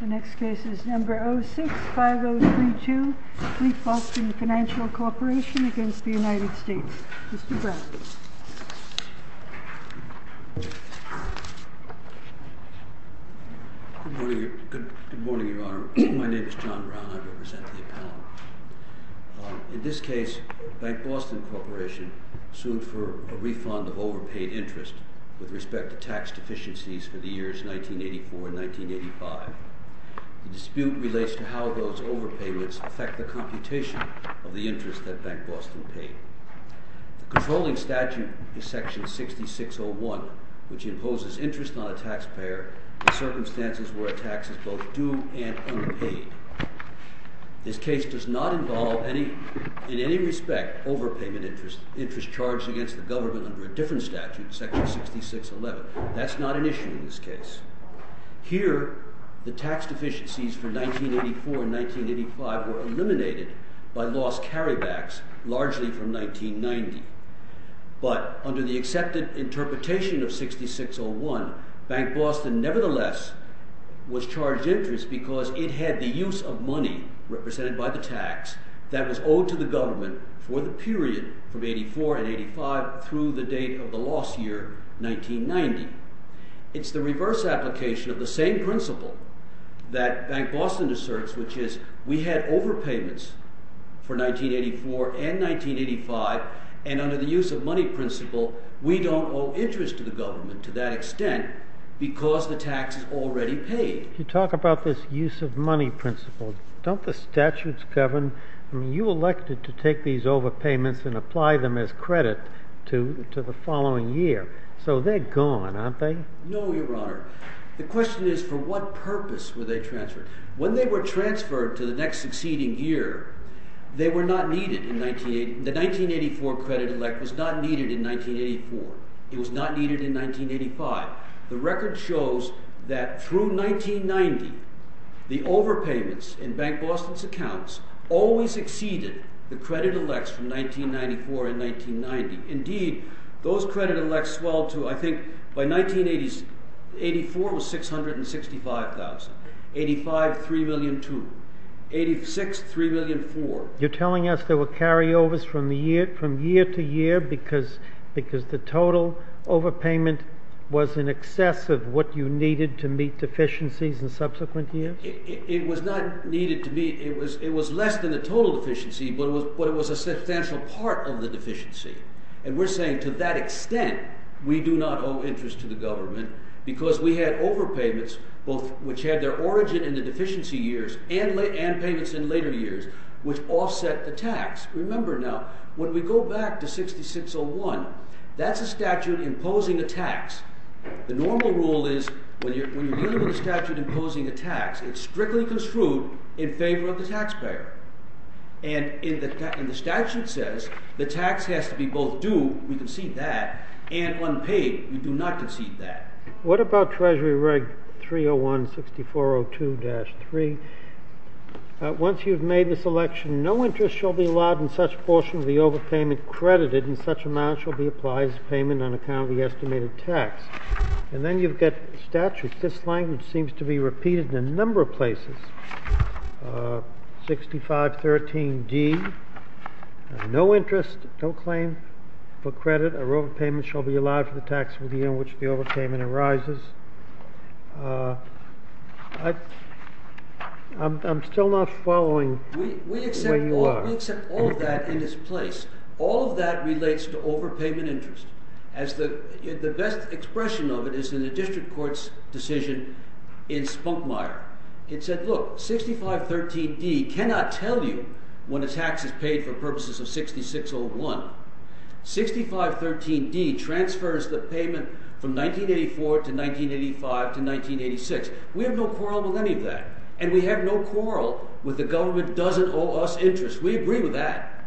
The next case is number 06-5032, Fleetboston Financial v. United States Good morning, Your Honor. My name is John Brown. I represent the appellant. In this case, Bank Boston Corporation sued for a refund of overpaid interest with respect to tax deficiencies for the years 1984 and 1985. The dispute relates to how those overpayments affect the computation of the interest that Bank Boston paid. The controlling statute is section 6601, which imposes interest on a taxpayer in circumstances where a tax is both due and unpaid. This case does not involve in any respect overpayment interest charged against the government under a different statute, section 6611. That's not an issue in this case. Here, the tax deficiencies for 1984 and 1985 were eliminated by lost carrybacks, largely from 1990. But under the accepted interpretation of 6601, Bank Boston nevertheless was charged interest because it had the use of money, represented by the tax, that was owed to the government for the period from 84 and 85 through the date of the loss year, 1990. It's the reverse application of the same principle that Bank Boston asserts, which is we had overpayments for 1984 and 1985. And under the use of money principle, we don't owe interest to the government to that extent because the tax is already paid. You talk about this use of money principle. Don't the statutes govern? I mean, you elected to take these overpayments and apply them as credit to the following year. So they're gone, aren't they? No, Your Honor. The question is, for what purpose were they transferred? When they were transferred to the next succeeding year, the 1984 credit elect was not needed in 1984. It was not needed in 1985. The record shows that through 1990, the overpayments in Bank Boston's accounts always exceeded the credit elects from 1994 and 1990. Indeed, those credit elects in 1984 were $665,000. In 1985, $3.2 million. In 1986, $3.4 million. You're telling us there were carryovers from year to year because the total overpayment was in excess of what you needed to meet deficiencies in subsequent years? It was less than the total deficiency, but it was a substantial part of the deficiency. And we're saying to that extent, we do not owe interest to the government because we had overpayments, both which had their origin in the deficiency years and payments in later years, which offset the tax. Remember now, when we go back to 6601, that's a statute imposing a tax. The normal rule is when you're dealing with a statute imposing a tax, it's we both do, we concede that. And unpaid, we do not concede that. What about Treasury Reg 301, 6402-3? Once you've made this election, no interest shall be allowed in such portion of the overpayment credited, and such amount shall be applied as payment on account of the estimated tax. And then you've got statutes. This language for credit or overpayment shall be allowed for the tax within which the overpayment arises. I'm still not following where you are. We accept all of that in its place. All of that relates to overpayment interest. The best expression of it is in a district court's decision in Spunkmeyer. It said, look, 6513D cannot tell you when a tax is paid for purposes of 6601. 6513D transfers the payment from 1984 to 1985 to 1986. We have no quarrel with any of that. And we have no quarrel with the government doesn't owe us interest. We agree with that.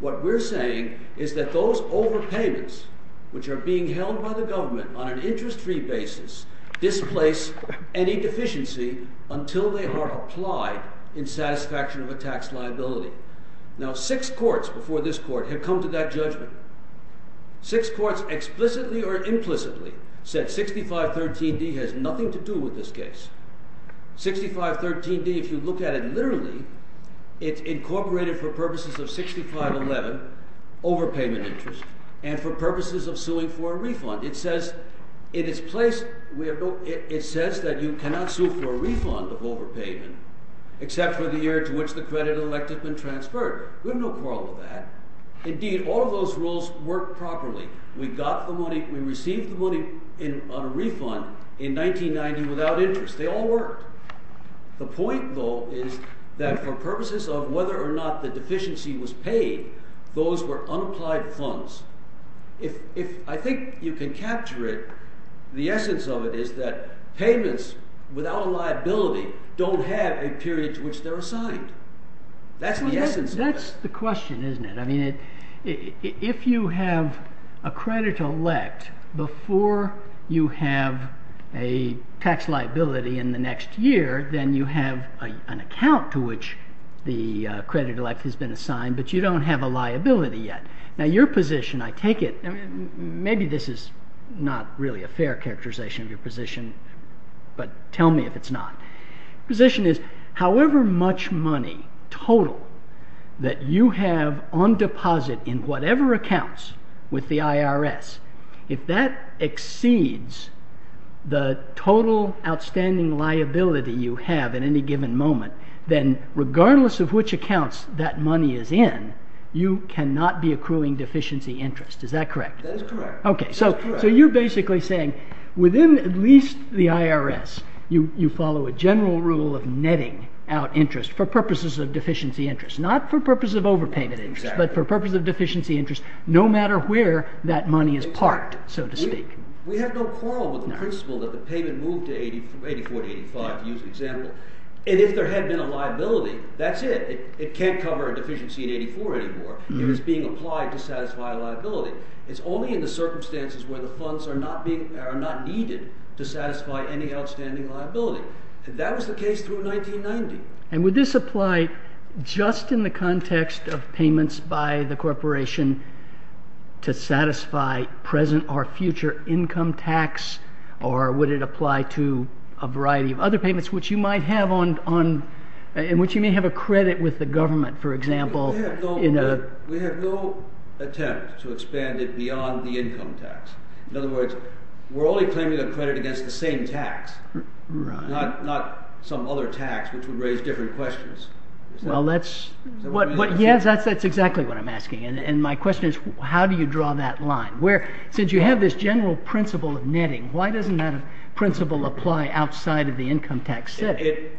What we're saying is that those overpayments, which are being held by the government on an interest-free basis, displace any deficiency until they are applied in satisfaction of a tax liability. Now, six courts before this court have come to that judgment. Six courts explicitly or implicitly said 6513D has nothing to do with this case. 6513D, if you look at it literally, it's incorporated for purposes of 6511, overpayment interest, and for purposes of suing for a refund of overpayment, except for the year to which the credit elect has been transferred. We have no quarrel with that. Indeed, all of those rules work properly. We received the money on a refund in 1990 without interest. They all worked. The point, though, is that for purposes of whether or not the deficiency was paid, those were unapplied funds. I think you can capture it. The essence of it is that payments without a liability don't have a period to which they're assigned. That's the essence of it. That's the question, isn't it? If you have a credit elect before you have a tax liability in the next year, then you have an account to which the credit elect has been assigned, but you don't have a liability yet. Your position, I take it, maybe this is not really a fair characterization of your position, but tell me if it's not. Your position is however much money total that you have on deposit in whatever accounts with the IRS, if that exceeds the total outstanding liability you have at any given moment, then regardless of which accounts that money is in, you cannot be accruing deficiency interest. Is that correct? That is correct. So you're basically saying within at least the IRS, you follow a general rule of netting out interest for purposes of deficiency interest. Not for purposes of overpayment interest, but for purposes of deficiency interest no matter where that money is parked, so to speak. We have no quarrel with the principle that the payment moved to 84 to 85, to use an example. And if there had been a liability, that's it. It can't cover a deficiency in 84 anymore. It is being applied to satisfy a liability. It's only in the circumstances where the funds are not needed to satisfy any outstanding liability. That was the case through 1990. And would this apply just in the context of payments by the corporation to satisfy present or future income tax, or would it apply to a variety of other payments in which you may have a credit with the government, for example? We have no attempt to expand it beyond the income tax. In other words, we're only claiming a credit against the same tax, not some other tax which would raise different questions. Yes, that's exactly what I'm asking. And my question is, how do you draw that line? Since you have this general principle of netting, why doesn't that principle apply outside of the income tax setting?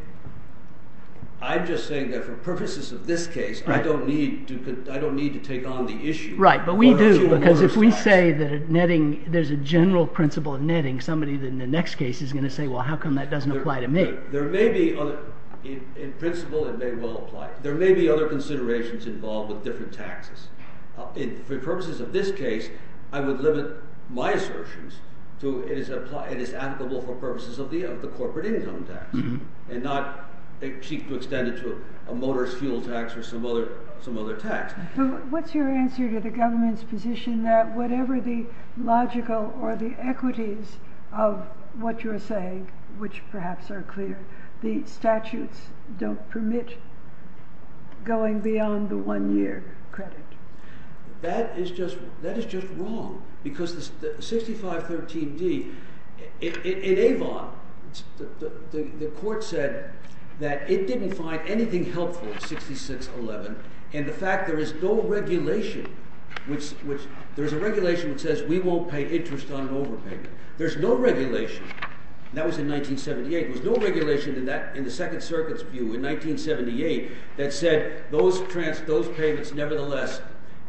I'm just saying that for purposes of this case, I don't need to take on the issue. Right, but we do, because if we say that there's a general principle of netting, somebody in the next case is going to say, well, how come that doesn't apply to me? In principle, it may well apply. There may be other considerations involved with different taxes. For purposes of this case, I would limit my assertions to it is applicable for purposes of the corporate income tax, and not seek to extend it to a motor fuel tax or some other tax. What's your answer to the government's position that whatever the logical or the equities of what you're saying, which perhaps are clear, the statutes don't permit going beyond the one-year credit? That is just wrong, because the 6513d, in Avon, the court said that it didn't find anything helpful in 6611, and the fact there is no regulation, there's a regulation that says we won't pay interest on an overpayment. There's no regulation, that was in 1978, there was no regulation in the Second Circuit's view in 1978 that said those payments nevertheless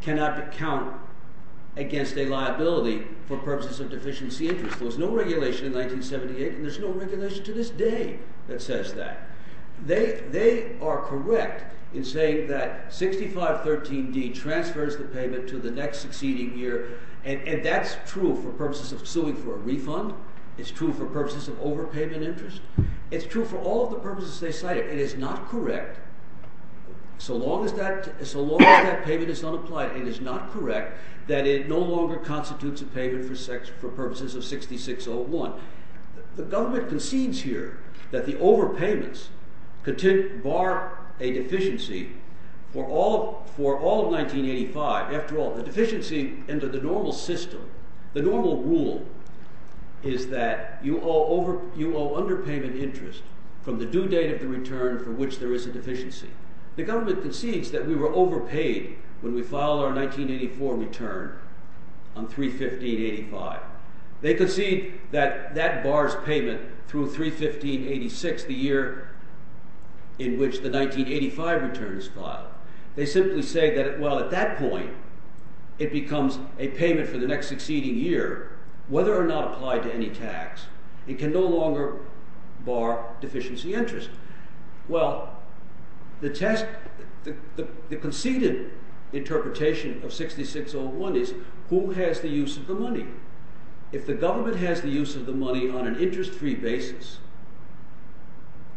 cannot be counted against a liability for purposes of deficiency interest. There was no regulation in 1978, and there's no regulation to this day that says that. They are correct in saying that 6513d transfers the payment to the next succeeding year, and that's true for purposes of suing for a refund, it's true for purposes of overpayment interest, it's true for all of the purposes they cited. It is not correct, so long as that payment is not applied, it is not correct that it no longer constitutes a payment for purposes of 6601. The government concedes here that the overpayments bar a deficiency for all of 1985, after all, the deficiency under the normal system, the normal rule is that you owe underpayment interest from the due date of the return from which there is a deficiency. The government concedes that we were overpaid when we filed our 1984 return on 31585. They concede that that bars payment through 31586, the year in which the 1985 return is filed. They simply say that, well, at that point, it becomes a payment for the next succeeding year, whether or not applied to any tax, it can no longer bar deficiency interest. Well, the conceded interpretation of 6601 is, who has the use of the money? If the government has the use of the money on an interest-free basis,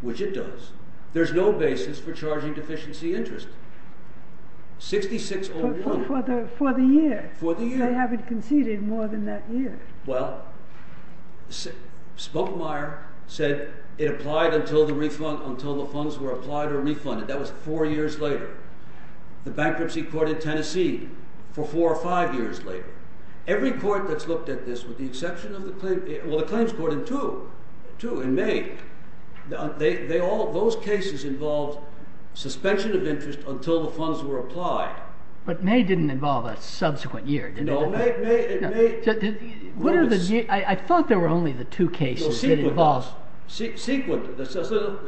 which it does, there is no basis for charging deficiency interest. 6601. But for the year. For the year. They haven't conceded more than that year. Well, Spokemeyer said it applied until the refund, until the funds were applied or refunded. That was four years later. The bankruptcy court in Tennessee, for four or five years later. Every court that's looked at this, with the exception of the claims court in May, those cases involved suspension of interest until the funds were applied. But May didn't involve a subsequent year, did it? No, May— I thought there were only the two cases that involved— Sequent.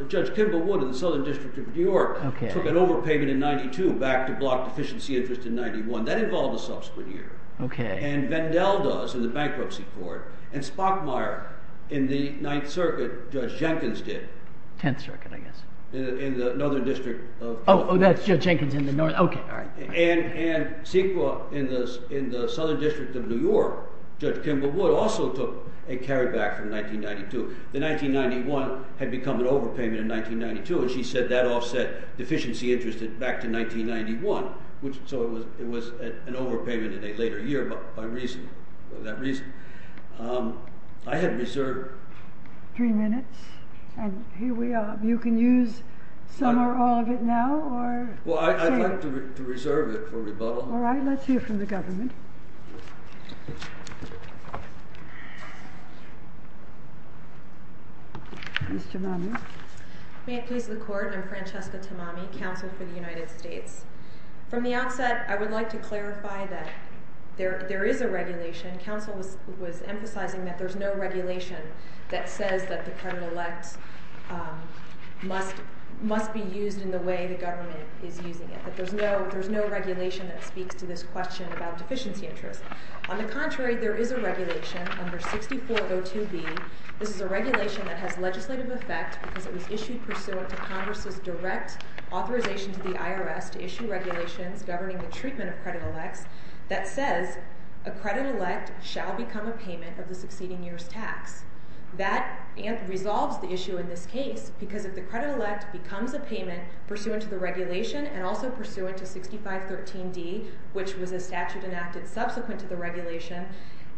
Judge Kimball Wood in the Southern District of New York took an overpayment in 92 back to block deficiency interest in 91. That involved a subsequent year. And Vendel does in the bankruptcy court. And Spokemeyer in the Ninth Circuit, Judge Jenkins did. Tenth Circuit, I guess. In the Northern District of New York. Oh, that's Judge Jenkins in the Northern—OK, all right. And Sequent in the Southern District of New York, Judge Kimball Wood also took a carryback from 1992. The 1991 had become an overpayment in 1992, and she said that offset deficiency interest back to 1991. So it was an overpayment in a later year for that reason. I had reserved— Three minutes, and here we are. You can use some or all of it now, or— Well, I'd like to reserve it for rebuttal. All right, let's hear from the government. Ms. Tamami. May it please the Court, I'm Francesca Tamami, Counsel for the United States. From the outset, I would like to clarify that there is a regulation. Counsel was emphasizing that there's no regulation that says that the credit elect must be used in the way the government is using it. That there's no regulation that speaks to this question about deficiency interest. On the contrary, there is a regulation under 6402B. This is a regulation that has legislative effect because it was issued pursuant to Congress's direct authorization to the IRS to issue regulations governing the treatment of credit elects that says a credit elect shall become a payment of the succeeding year's tax. That resolves the issue in this case because if the credit elect becomes a payment pursuant to the regulation and also pursuant to 6513D, which was a statute enacted subsequent to the regulation,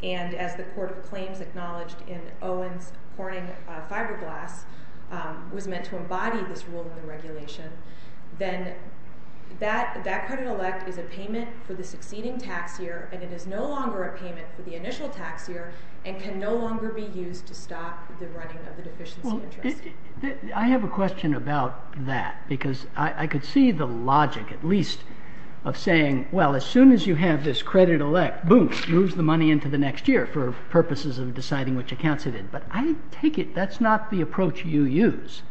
and as the Court of Claims acknowledged in Owens-Corning-Fiberglass was meant to embody this rule in the regulation, then that credit elect is a payment for the succeeding tax year and it is no longer a payment for the initial tax year and can no longer be used to stop the running of the deficiency interest. I have a question about that because I could see the logic, at least, of saying, well, as soon as you have this credit elect, boom, moves the money into the next year for purposes of deciding which accounts it is. But I take it that's not the approach you use.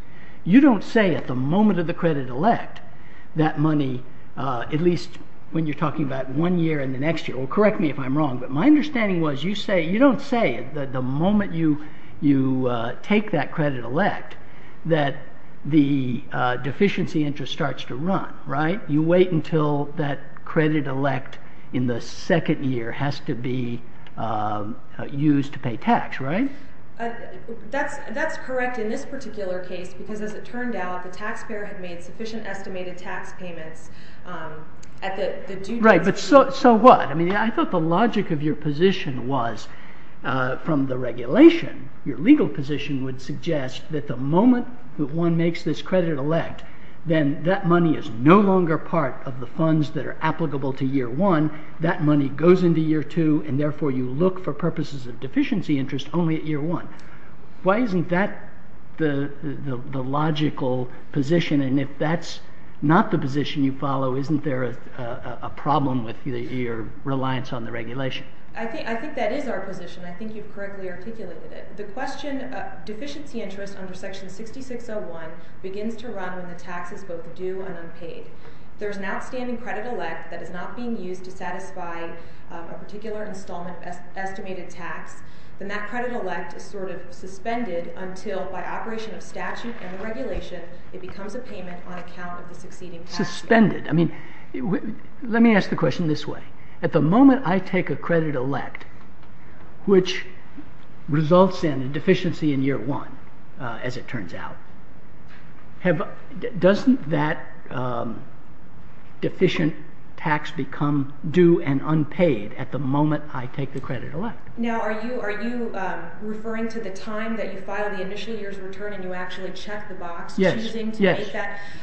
You don't say at the moment of the credit elect that money, at least when you're talking about one year and the next year, well, correct me if I'm wrong, but my understanding was you don't say that the moment you take that credit elect that the deficiency interest starts to run, right? You wait until that credit elect in the second year has to be used to pay tax, right? That's correct in this particular case because, as it turned out, the taxpayer had made sufficient estimated tax payments at the due date. Right, but so what? I mean, I thought the logic of your position was, from the regulation, your legal position would suggest that the moment that one makes this credit elect, then that money is no longer part of the funds that are applicable to year one. That money goes into year two, and therefore you look for purposes of deficiency interest only at year one. Why isn't that the logical position? And if that's not the position you follow, isn't there a problem with your reliance on the regulation? I think that is our position. I think you've correctly articulated it. The question of deficiency interest under section 6601 begins to run when the tax is both due and unpaid. If there's an outstanding credit elect that is not being used to satisfy a particular installment of estimated tax, then that credit elect is sort of suspended until, by operation of statute and regulation, it becomes a payment on account of the succeeding tax year. Suspended? I mean, let me ask the question this way. At the moment I take a credit elect, which results in a deficiency in year one, as it turns out, doesn't that deficient tax become due and unpaid at the moment I take the credit elect? Now, are you referring to the time that you file the initial year's return and you actually check the box? Yes.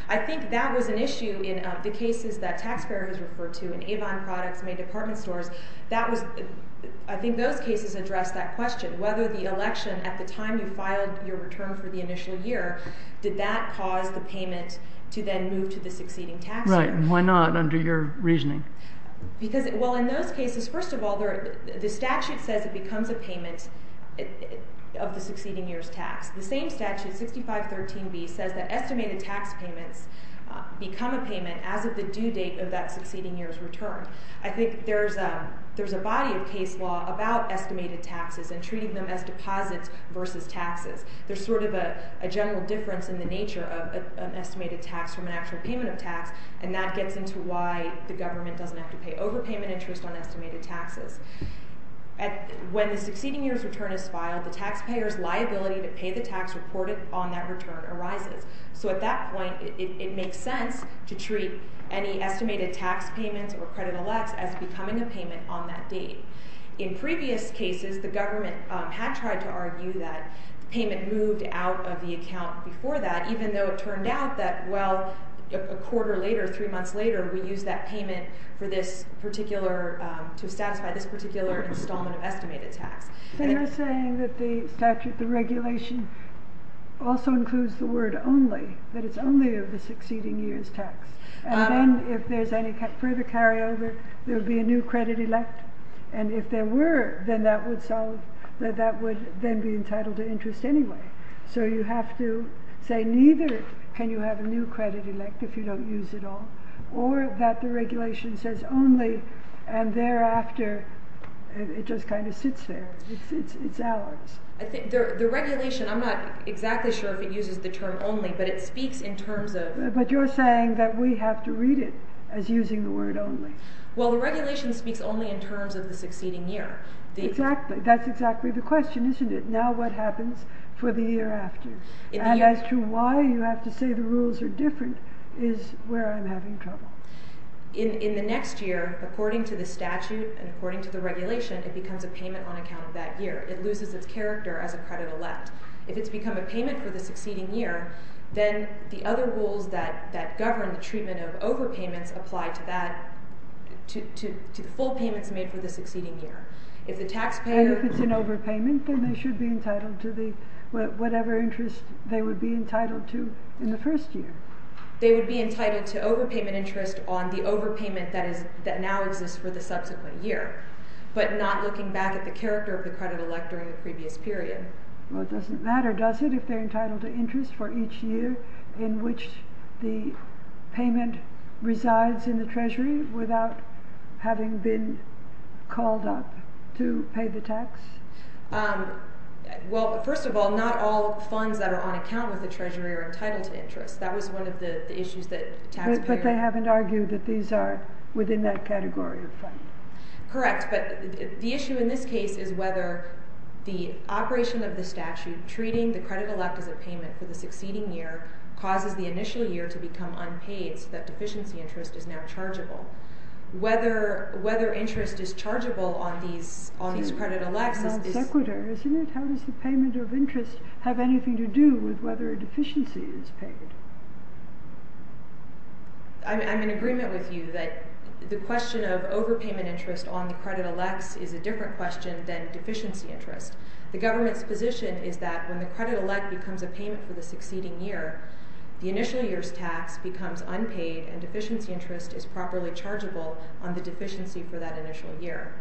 I think that was an issue in the cases that taxpayers referred to in Avon Products, May Department Stores. I think those cases address that question. Whether the election at the time you filed your return for the initial year, did that cause the payment to then move to the succeeding tax year? Right. And why not under your reasoning? Because, well, in those cases, first of all, the statute says it becomes a payment of the succeeding year's tax. The same statute, 6513B, says that estimated tax payments become a payment as of the due date of that succeeding year's return. I think there's a body of case law about estimated taxes and treating them as deposits versus taxes. There's sort of a general difference in the nature of an estimated tax from an actual payment of tax, and that gets into why the government doesn't have to pay overpayment interest on estimated taxes. When the succeeding year's return is filed, the taxpayer's liability to pay the tax reported on that return arises. So at that point, it makes sense to treat any estimated tax payments or credit elects as becoming a payment on that date. In previous cases, the government had tried to argue that payment moved out of the account before that, even though it turned out that, well, a quarter later, three months later, we used that payment to satisfy this particular installment of estimated tax. They're saying that the regulation also includes the word only, that it's only of the succeeding year's tax. And then if there's any further carryover, there would be a new credit elect. And if there were, then that would then be entitled to interest anyway. So you have to say neither can you have a new credit elect if you don't use it all or that the regulation says only and thereafter it just kind of sits there. It's ours. I think the regulation, I'm not exactly sure if it uses the term only, but it speaks in terms of... But you're saying that we have to read it as using the word only. Well, the regulation speaks only in terms of the succeeding year. Exactly. That's exactly the question, isn't it? Now what happens for the year after? And as to why you have to say the rules are different is where I'm having trouble. In the next year, according to the statute and according to the regulation, it becomes a payment on account of that year. It loses its character as a credit elect. If it's become a payment for the succeeding year, then the other rules that govern the treatment of overpayments apply to that, to the full payments made for the succeeding year. And if it's an overpayment, then they should be entitled to whatever interest they would be entitled to in the first year. Well, it doesn't matter, does it, if they're entitled to interest for each year in which the payment resides in the treasury without having been called up to pay the tax? Well, first of all, not all funds that are on account with the treasury are entitled to interest. That was one of the issues that tax payers... But they haven't argued that these are within that category of funds. Correct, but the issue in this case is whether the operation of the statute treating the credit elect as a payment for the succeeding year causes the initial year to become unpaid so that deficiency interest is now chargeable. Whether interest is chargeable on these credit elects is... It's not sequitur, isn't it? How does the payment of interest have anything to do with whether a deficiency is paid? I'm in agreement with you that the question of overpayment interest on the credit elects is a different question than deficiency interest. The government's position is that when the credit elect becomes a payment for the succeeding year, the initial year's tax becomes unpaid and deficiency interest is properly chargeable on the deficiency for that initial year.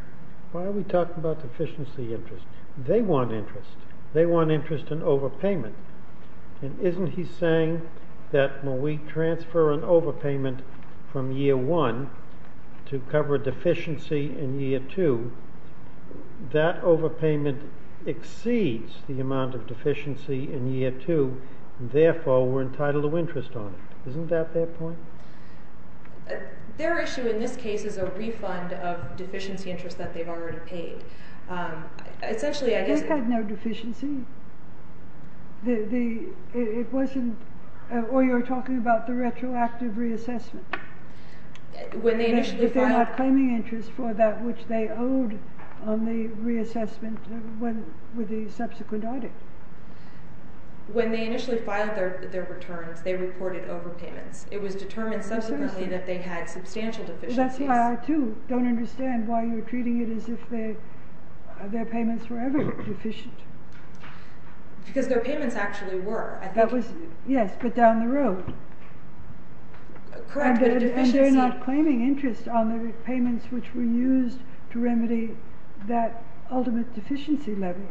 Why are we talking about deficiency interest? They want interest. They want interest in overpayment. And isn't he saying that when we transfer an overpayment from year one to cover deficiency in year two, that overpayment exceeds the amount of deficiency in year two, and therefore we're entitled to interest on it. Isn't that their point? Their issue in this case is a refund of deficiency interest that they've already paid. Essentially, I guess... They've had no deficiency. It wasn't... Or you're talking about the retroactive reassessment? If they're not claiming interest for that which they owed on the reassessment with the subsequent audit. When they initially filed their returns, they reported overpayments. It was determined subsequently that they had substantial deficiencies. That's why I, too, don't understand why you're treating it as if their payments were ever deficient. Because their payments actually were. Yes, but down the road. Correct, but a deficiency... And they're not claiming interest on the repayments which were used to remedy that ultimate deficiency level.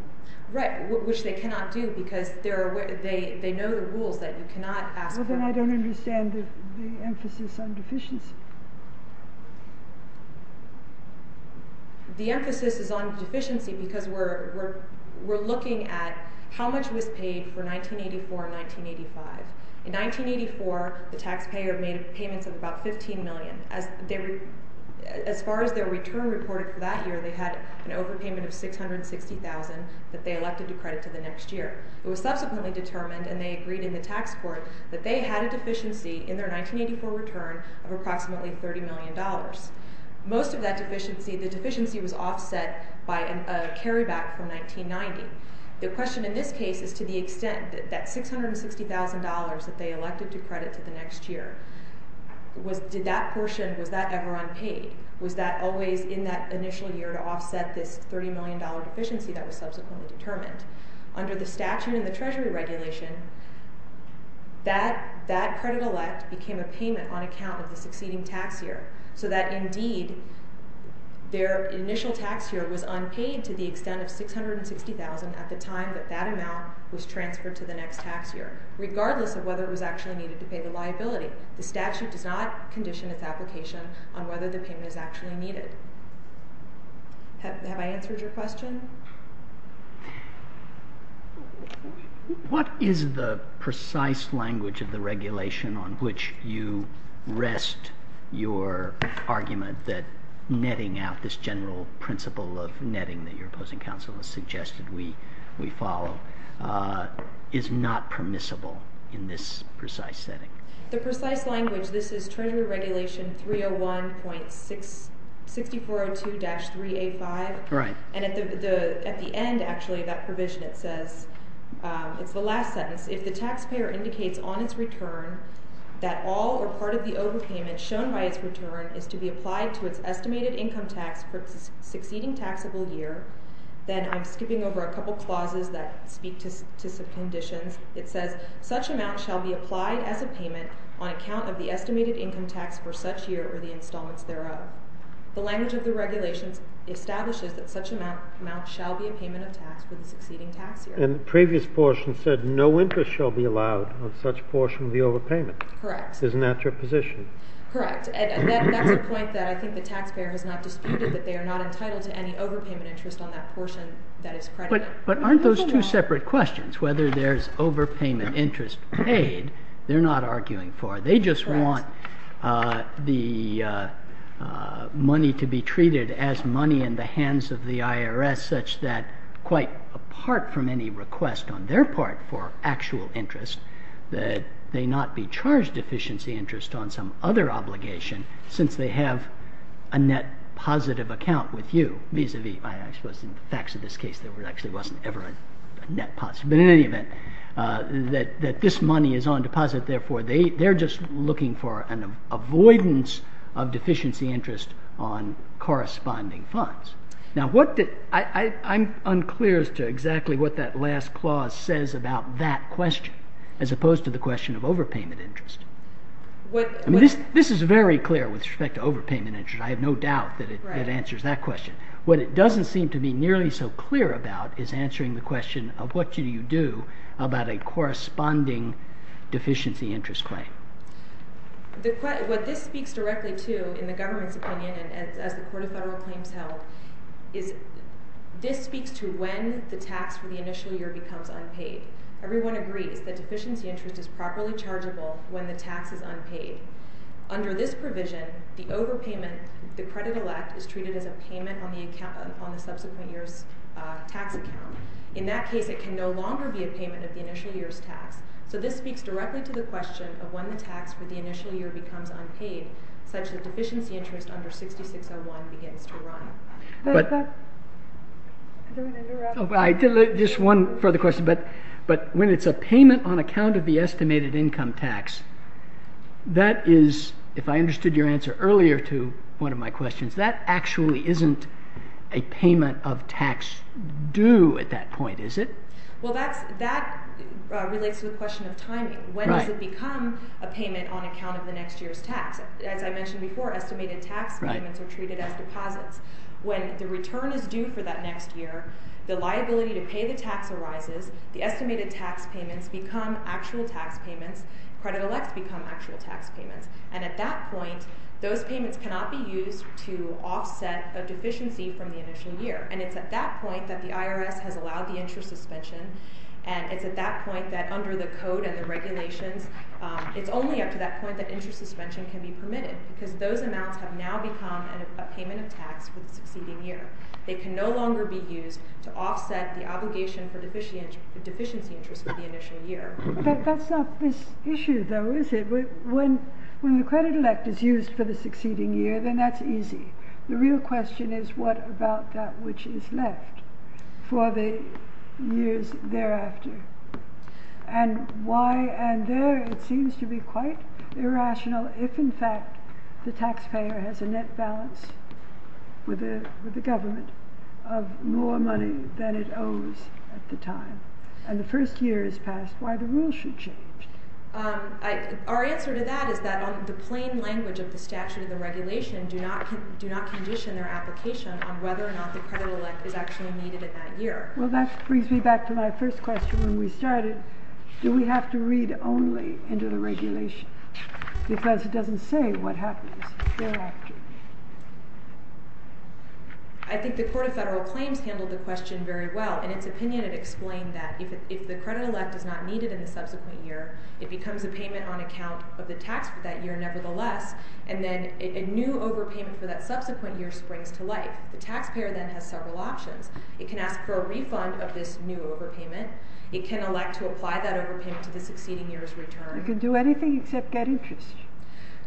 Right, which they cannot do because they know the rules that you cannot ask for. Well, then I don't understand the emphasis on deficiency. The emphasis is on deficiency because we're looking at how much was paid for 1984 and 1985. In 1984, the taxpayer made payments of about $15 million. As far as their return reported for that year, they had an overpayment of $660,000 that they elected to credit to the next year. It was subsequently determined, and they agreed in the tax court, that they had a deficiency in their 1984 return of approximately $30 million. Most of that deficiency... The deficiency was offset by a carryback from 1990. The question in this case is to the extent that that $660,000 that they elected to credit to the next year, did that portion, was that ever unpaid? Was that always in that initial year to offset this $30 million deficiency that was subsequently determined? Under the statute and the Treasury regulation, that credit elect became a payment on account of the succeeding tax year. So that, indeed, their initial tax year was unpaid to the extent of $660,000 at the time that that amount was transferred to the next tax year, regardless of whether it was actually needed to pay the liability. The statute does not condition its application on whether the payment is actually needed. Have I answered your question? What is the precise language of the regulation on which you rest your argument that netting out this general principle of netting that your opposing counsel has suggested we follow is not permissible in this precise setting? The precise language, this is Treasury Regulation 301.6402-3A5. And at the end, actually, that provision, it says, it's the last sentence, if the taxpayer indicates on its return that all or part of the overpayment shown by its return is to be applied to its estimated income tax for its succeeding taxable year, then I'm skipping over a couple clauses that speak to some conditions. It says, such amount shall be applied as a payment on account of the estimated income tax for such year or the installments thereof. The language of the regulations establishes that such amount shall be a payment of tax for the succeeding tax year. And the previous portion said no interest shall be allowed on such portion of the overpayment. Correct. Isn't that your position? Correct. And that's a point that I think the taxpayer has not disputed, that they are not entitled to any overpayment interest on that portion that is credited. But aren't those two separate questions? Whether there's overpayment interest paid, they're not arguing for. They just want the money to be treated as money in the hands of the IRS such that quite apart from any request on their part for actual interest, that they not be charged efficiency interest on some other obligation since they have a net positive account with you, vis-a-vis. I suppose in the facts of this case, there actually wasn't ever a net positive. But in any event, that this money is on deposit. Therefore, they're just looking for an avoidance of deficiency interest on corresponding funds. Now, I'm unclear as to exactly what that last clause says about that question as opposed to the question of overpayment interest. This is very clear with respect to overpayment interest. I have no doubt that it answers that question. What it doesn't seem to be nearly so clear about is answering the question of what do you do about a corresponding deficiency interest claim. What this speaks directly to in the government's opinion as the Court of Federal Claims held, is this speaks to when the tax for the initial year becomes unpaid. Everyone agrees that deficiency interest is properly chargeable when the tax is unpaid. Under this provision, the overpayment, the credit elect is treated as a payment on the subsequent year's tax account. In that case, it can no longer be a payment of the initial year's tax. So this speaks directly to the question of when the tax for the initial year becomes unpaid, such that deficiency interest under 6601 begins to run. Just one further question. But when it's a payment on account of the estimated income tax, that is, if I understood your answer earlier to one of my questions, that actually isn't a payment of tax due at that point, is it? Well, that relates to the question of timing. When does it become a payment on account of the next year's tax? As I mentioned before, estimated tax payments are treated as deposits. When the return is due for that next year, the liability to pay the tax arises. The estimated tax payments become actual tax payments. Credit elects become actual tax payments. And at that point, those payments cannot be used to offset a deficiency from the initial year. And it's at that point that the IRS has allowed the interest suspension. And it's at that point that under the code and the regulations, it's only up to that point that interest suspension can be permitted, because those amounts have now become a payment of tax for the succeeding year. They can no longer be used to offset the obligation for deficiency interest for the initial year. But that's not this issue, though, is it? When the credit elect is used for the succeeding year, then that's easy. The real question is, what about that which is left for the years thereafter? And why, and there it seems to be quite irrational, if in fact the taxpayer has a net balance with the government of more money than it owes at the time, and the first year has passed, why the rule should change? Our answer to that is that the plain language of the statute and the regulation do not condition their application on whether or not the credit elect is actually needed in that year. Well, that brings me back to my first question when we started. Do we have to read only into the regulation? Because it doesn't say what happens thereafter. I think the Court of Federal Claims handled the question very well. In its opinion, it explained that if the credit elect is not needed in the subsequent year, it becomes a payment on account of the tax for that year nevertheless, and then a new overpayment for that subsequent year springs to life. The taxpayer then has several options. It can ask for a refund of this new overpayment. It can elect to apply that overpayment to the succeeding year's return. It can do anything except get interest.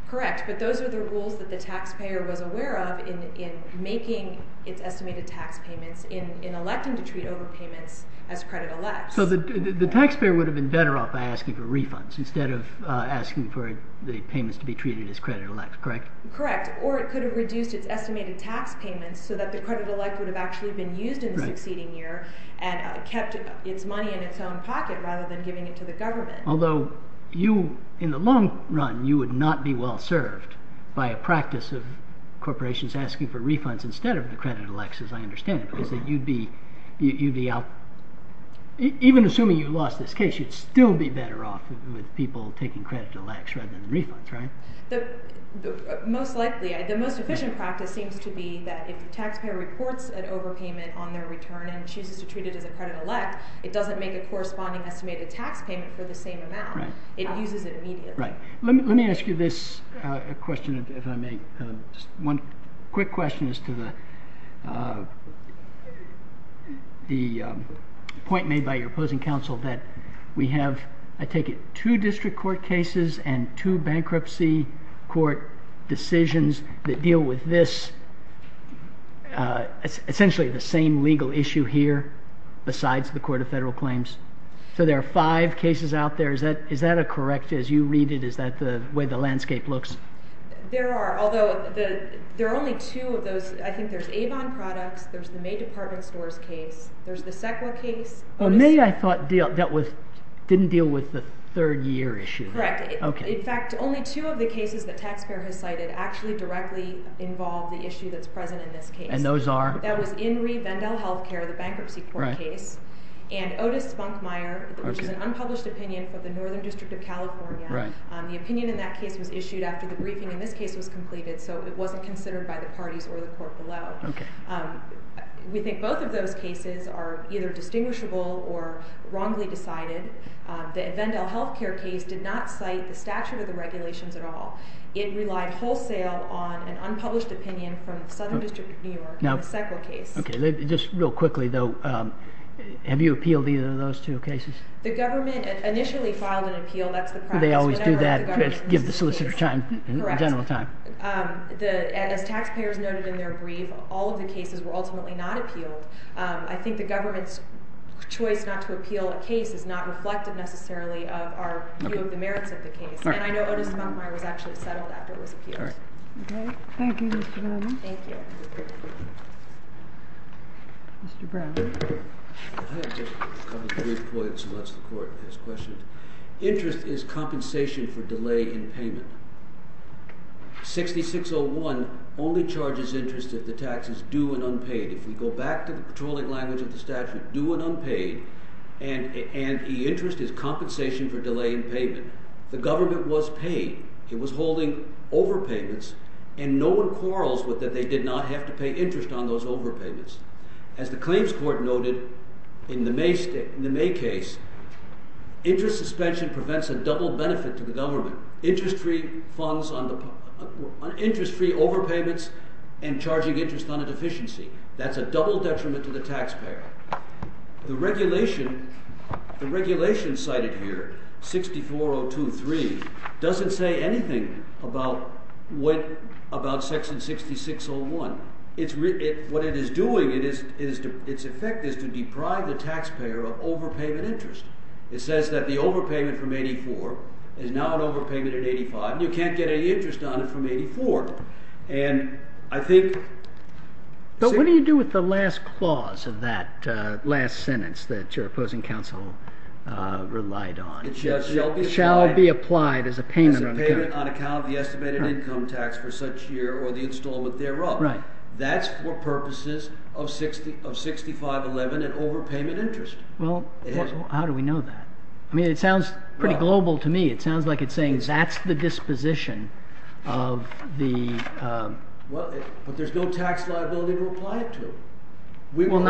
Correct, but those are the rules that the taxpayer was aware of in making its estimated tax payments, in electing to treat overpayments as credit elects. So the taxpayer would have been better off asking for refunds instead of asking for the payments to be treated as credit elects, correct? Correct, or it could have reduced its estimated tax payments so that the credit elect would have actually been used in the succeeding year and kept its money in its own pocket rather than giving it to the government. Although, in the long run, you would not be well served by a practice of corporations asking for refunds instead of the credit elects, as I understand it, because you'd be out... Even assuming you lost this case, you'd still be better off with people taking credit elects rather than refunds, right? Most likely, the most efficient practice seems to be that if the taxpayer reports an overpayment on their return and chooses to treat it as a credit elect, it doesn't make a corresponding estimated tax payment for the same amount. It uses it immediately. Let me ask you this question, if I may. One quick question as to the point made by your opposing counsel that we have, I take it, two district court cases and two bankruptcy court decisions that deal with this, essentially the same legal issue here besides the Court of Federal Claims. So there are five cases out there. Is that correct as you read it? Is that the way the landscape looks? There are, although there are only two of those. I think there's Avon Products, there's the May Department Stores case, there's the CEQA case. Well, maybe I thought that didn't deal with the third year issue. Correct. In fact, only two of the cases the taxpayer has cited actually directly involve the issue that's present in this case. And those are? That was Inree Vandel Healthcare, the bankruptcy court case, and Otis Spunkmeyer, which is an unpublished opinion for the Northern District of California. The opinion in that case was issued after the briefing in this case was completed, so it wasn't considered by the parties or the court below. We think both of those cases are either distinguishable or wrongly decided. The Vandel Healthcare case did not cite the statute of the regulations at all. It relied wholesale on an unpublished opinion from the Southern District of New York in the CEQA case. Just real quickly, though, have you appealed either of those two cases? The government initially filed an appeal. That's the practice. They always do that, give the solicitor time, general time. As taxpayers noted in their brief, all of the cases were ultimately not appealed. I think the government's choice not to appeal a case is not reflective necessarily of our view of the merits of the case. And I know Otis Spunkmeyer was actually settled after it was appealed. Thank you, Mr. Bowman. Thank you. Mr. Brown. Interest is compensation for delay in payment. 6601 only charges interest if the tax is due and unpaid. If we go back to the patrolling language of the statute, due and unpaid, and interest is compensation for delay in payment. The government was paid. It was holding overpayments, and no one quarrels that they did not have to pay interest on those overpayments. As the claims court noted in the May case, interest suspension prevents a double benefit to the government. Interest-free overpayments and charging interest on a deficiency. That's a double detriment to the taxpayer. The regulation cited here, 64023, doesn't say anything about section 6601. What it is doing, its effect is to deprive the taxpayer of overpayment interest. It says that the overpayment from 84 is now an overpayment at 85, and you can't get any interest on it from 84. But what do you do with the last clause of that last sentence that your opposing counsel relied on? It shall be applied as a payment on account of the estimated income tax for such year or the installment thereof. That's for purposes of 6511 and overpayment interest. Well, how do we know that? I mean, it sounds pretty global to me. It sounds like it's saying that's the disposition of the... Well, but there's no tax liability to apply it to. Well,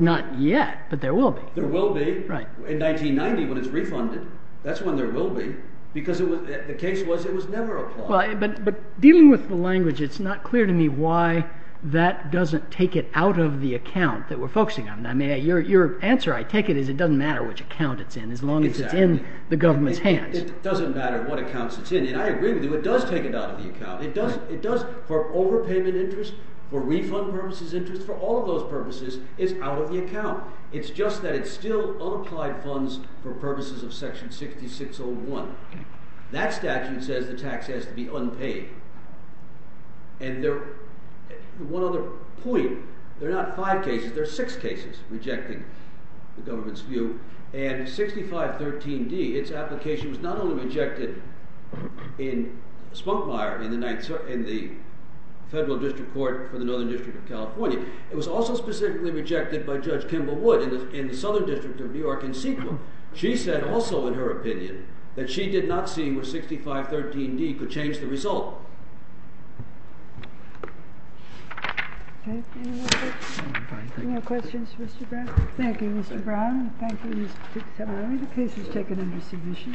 not yet, but there will be. There will be in 1990 when it's refunded. That's when there will be, because the case was it was never applied. But dealing with the language, it's not clear to me why that doesn't take it out of the account that we're focusing on. Your answer, I take it, is it doesn't matter which account it's in as long as it's in the government's hands. It doesn't matter what accounts it's in, and I agree with you, it does take it out of the account. It does for overpayment interest, for refund purposes interest, for all of those purposes, it's out of the account. It's just that it's still unapplied funds for purposes of section 6601. That statute says the tax has to be unpaid. And one other point, there are not five cases, there are six cases rejecting the government's view, and 6513D, its application was not only rejected in Spunkmire in the Federal District Court for the Northern District of California, it was also specifically rejected by Judge Kimball Wood in the Southern District of New York in Sequel. She said also in her opinion that she did not see where 6513D could change the result. Any more questions for Mr. Brown? Thank you, Mr. Brown. Thank you, Ms. Fitzhaber. The case is taken under submission.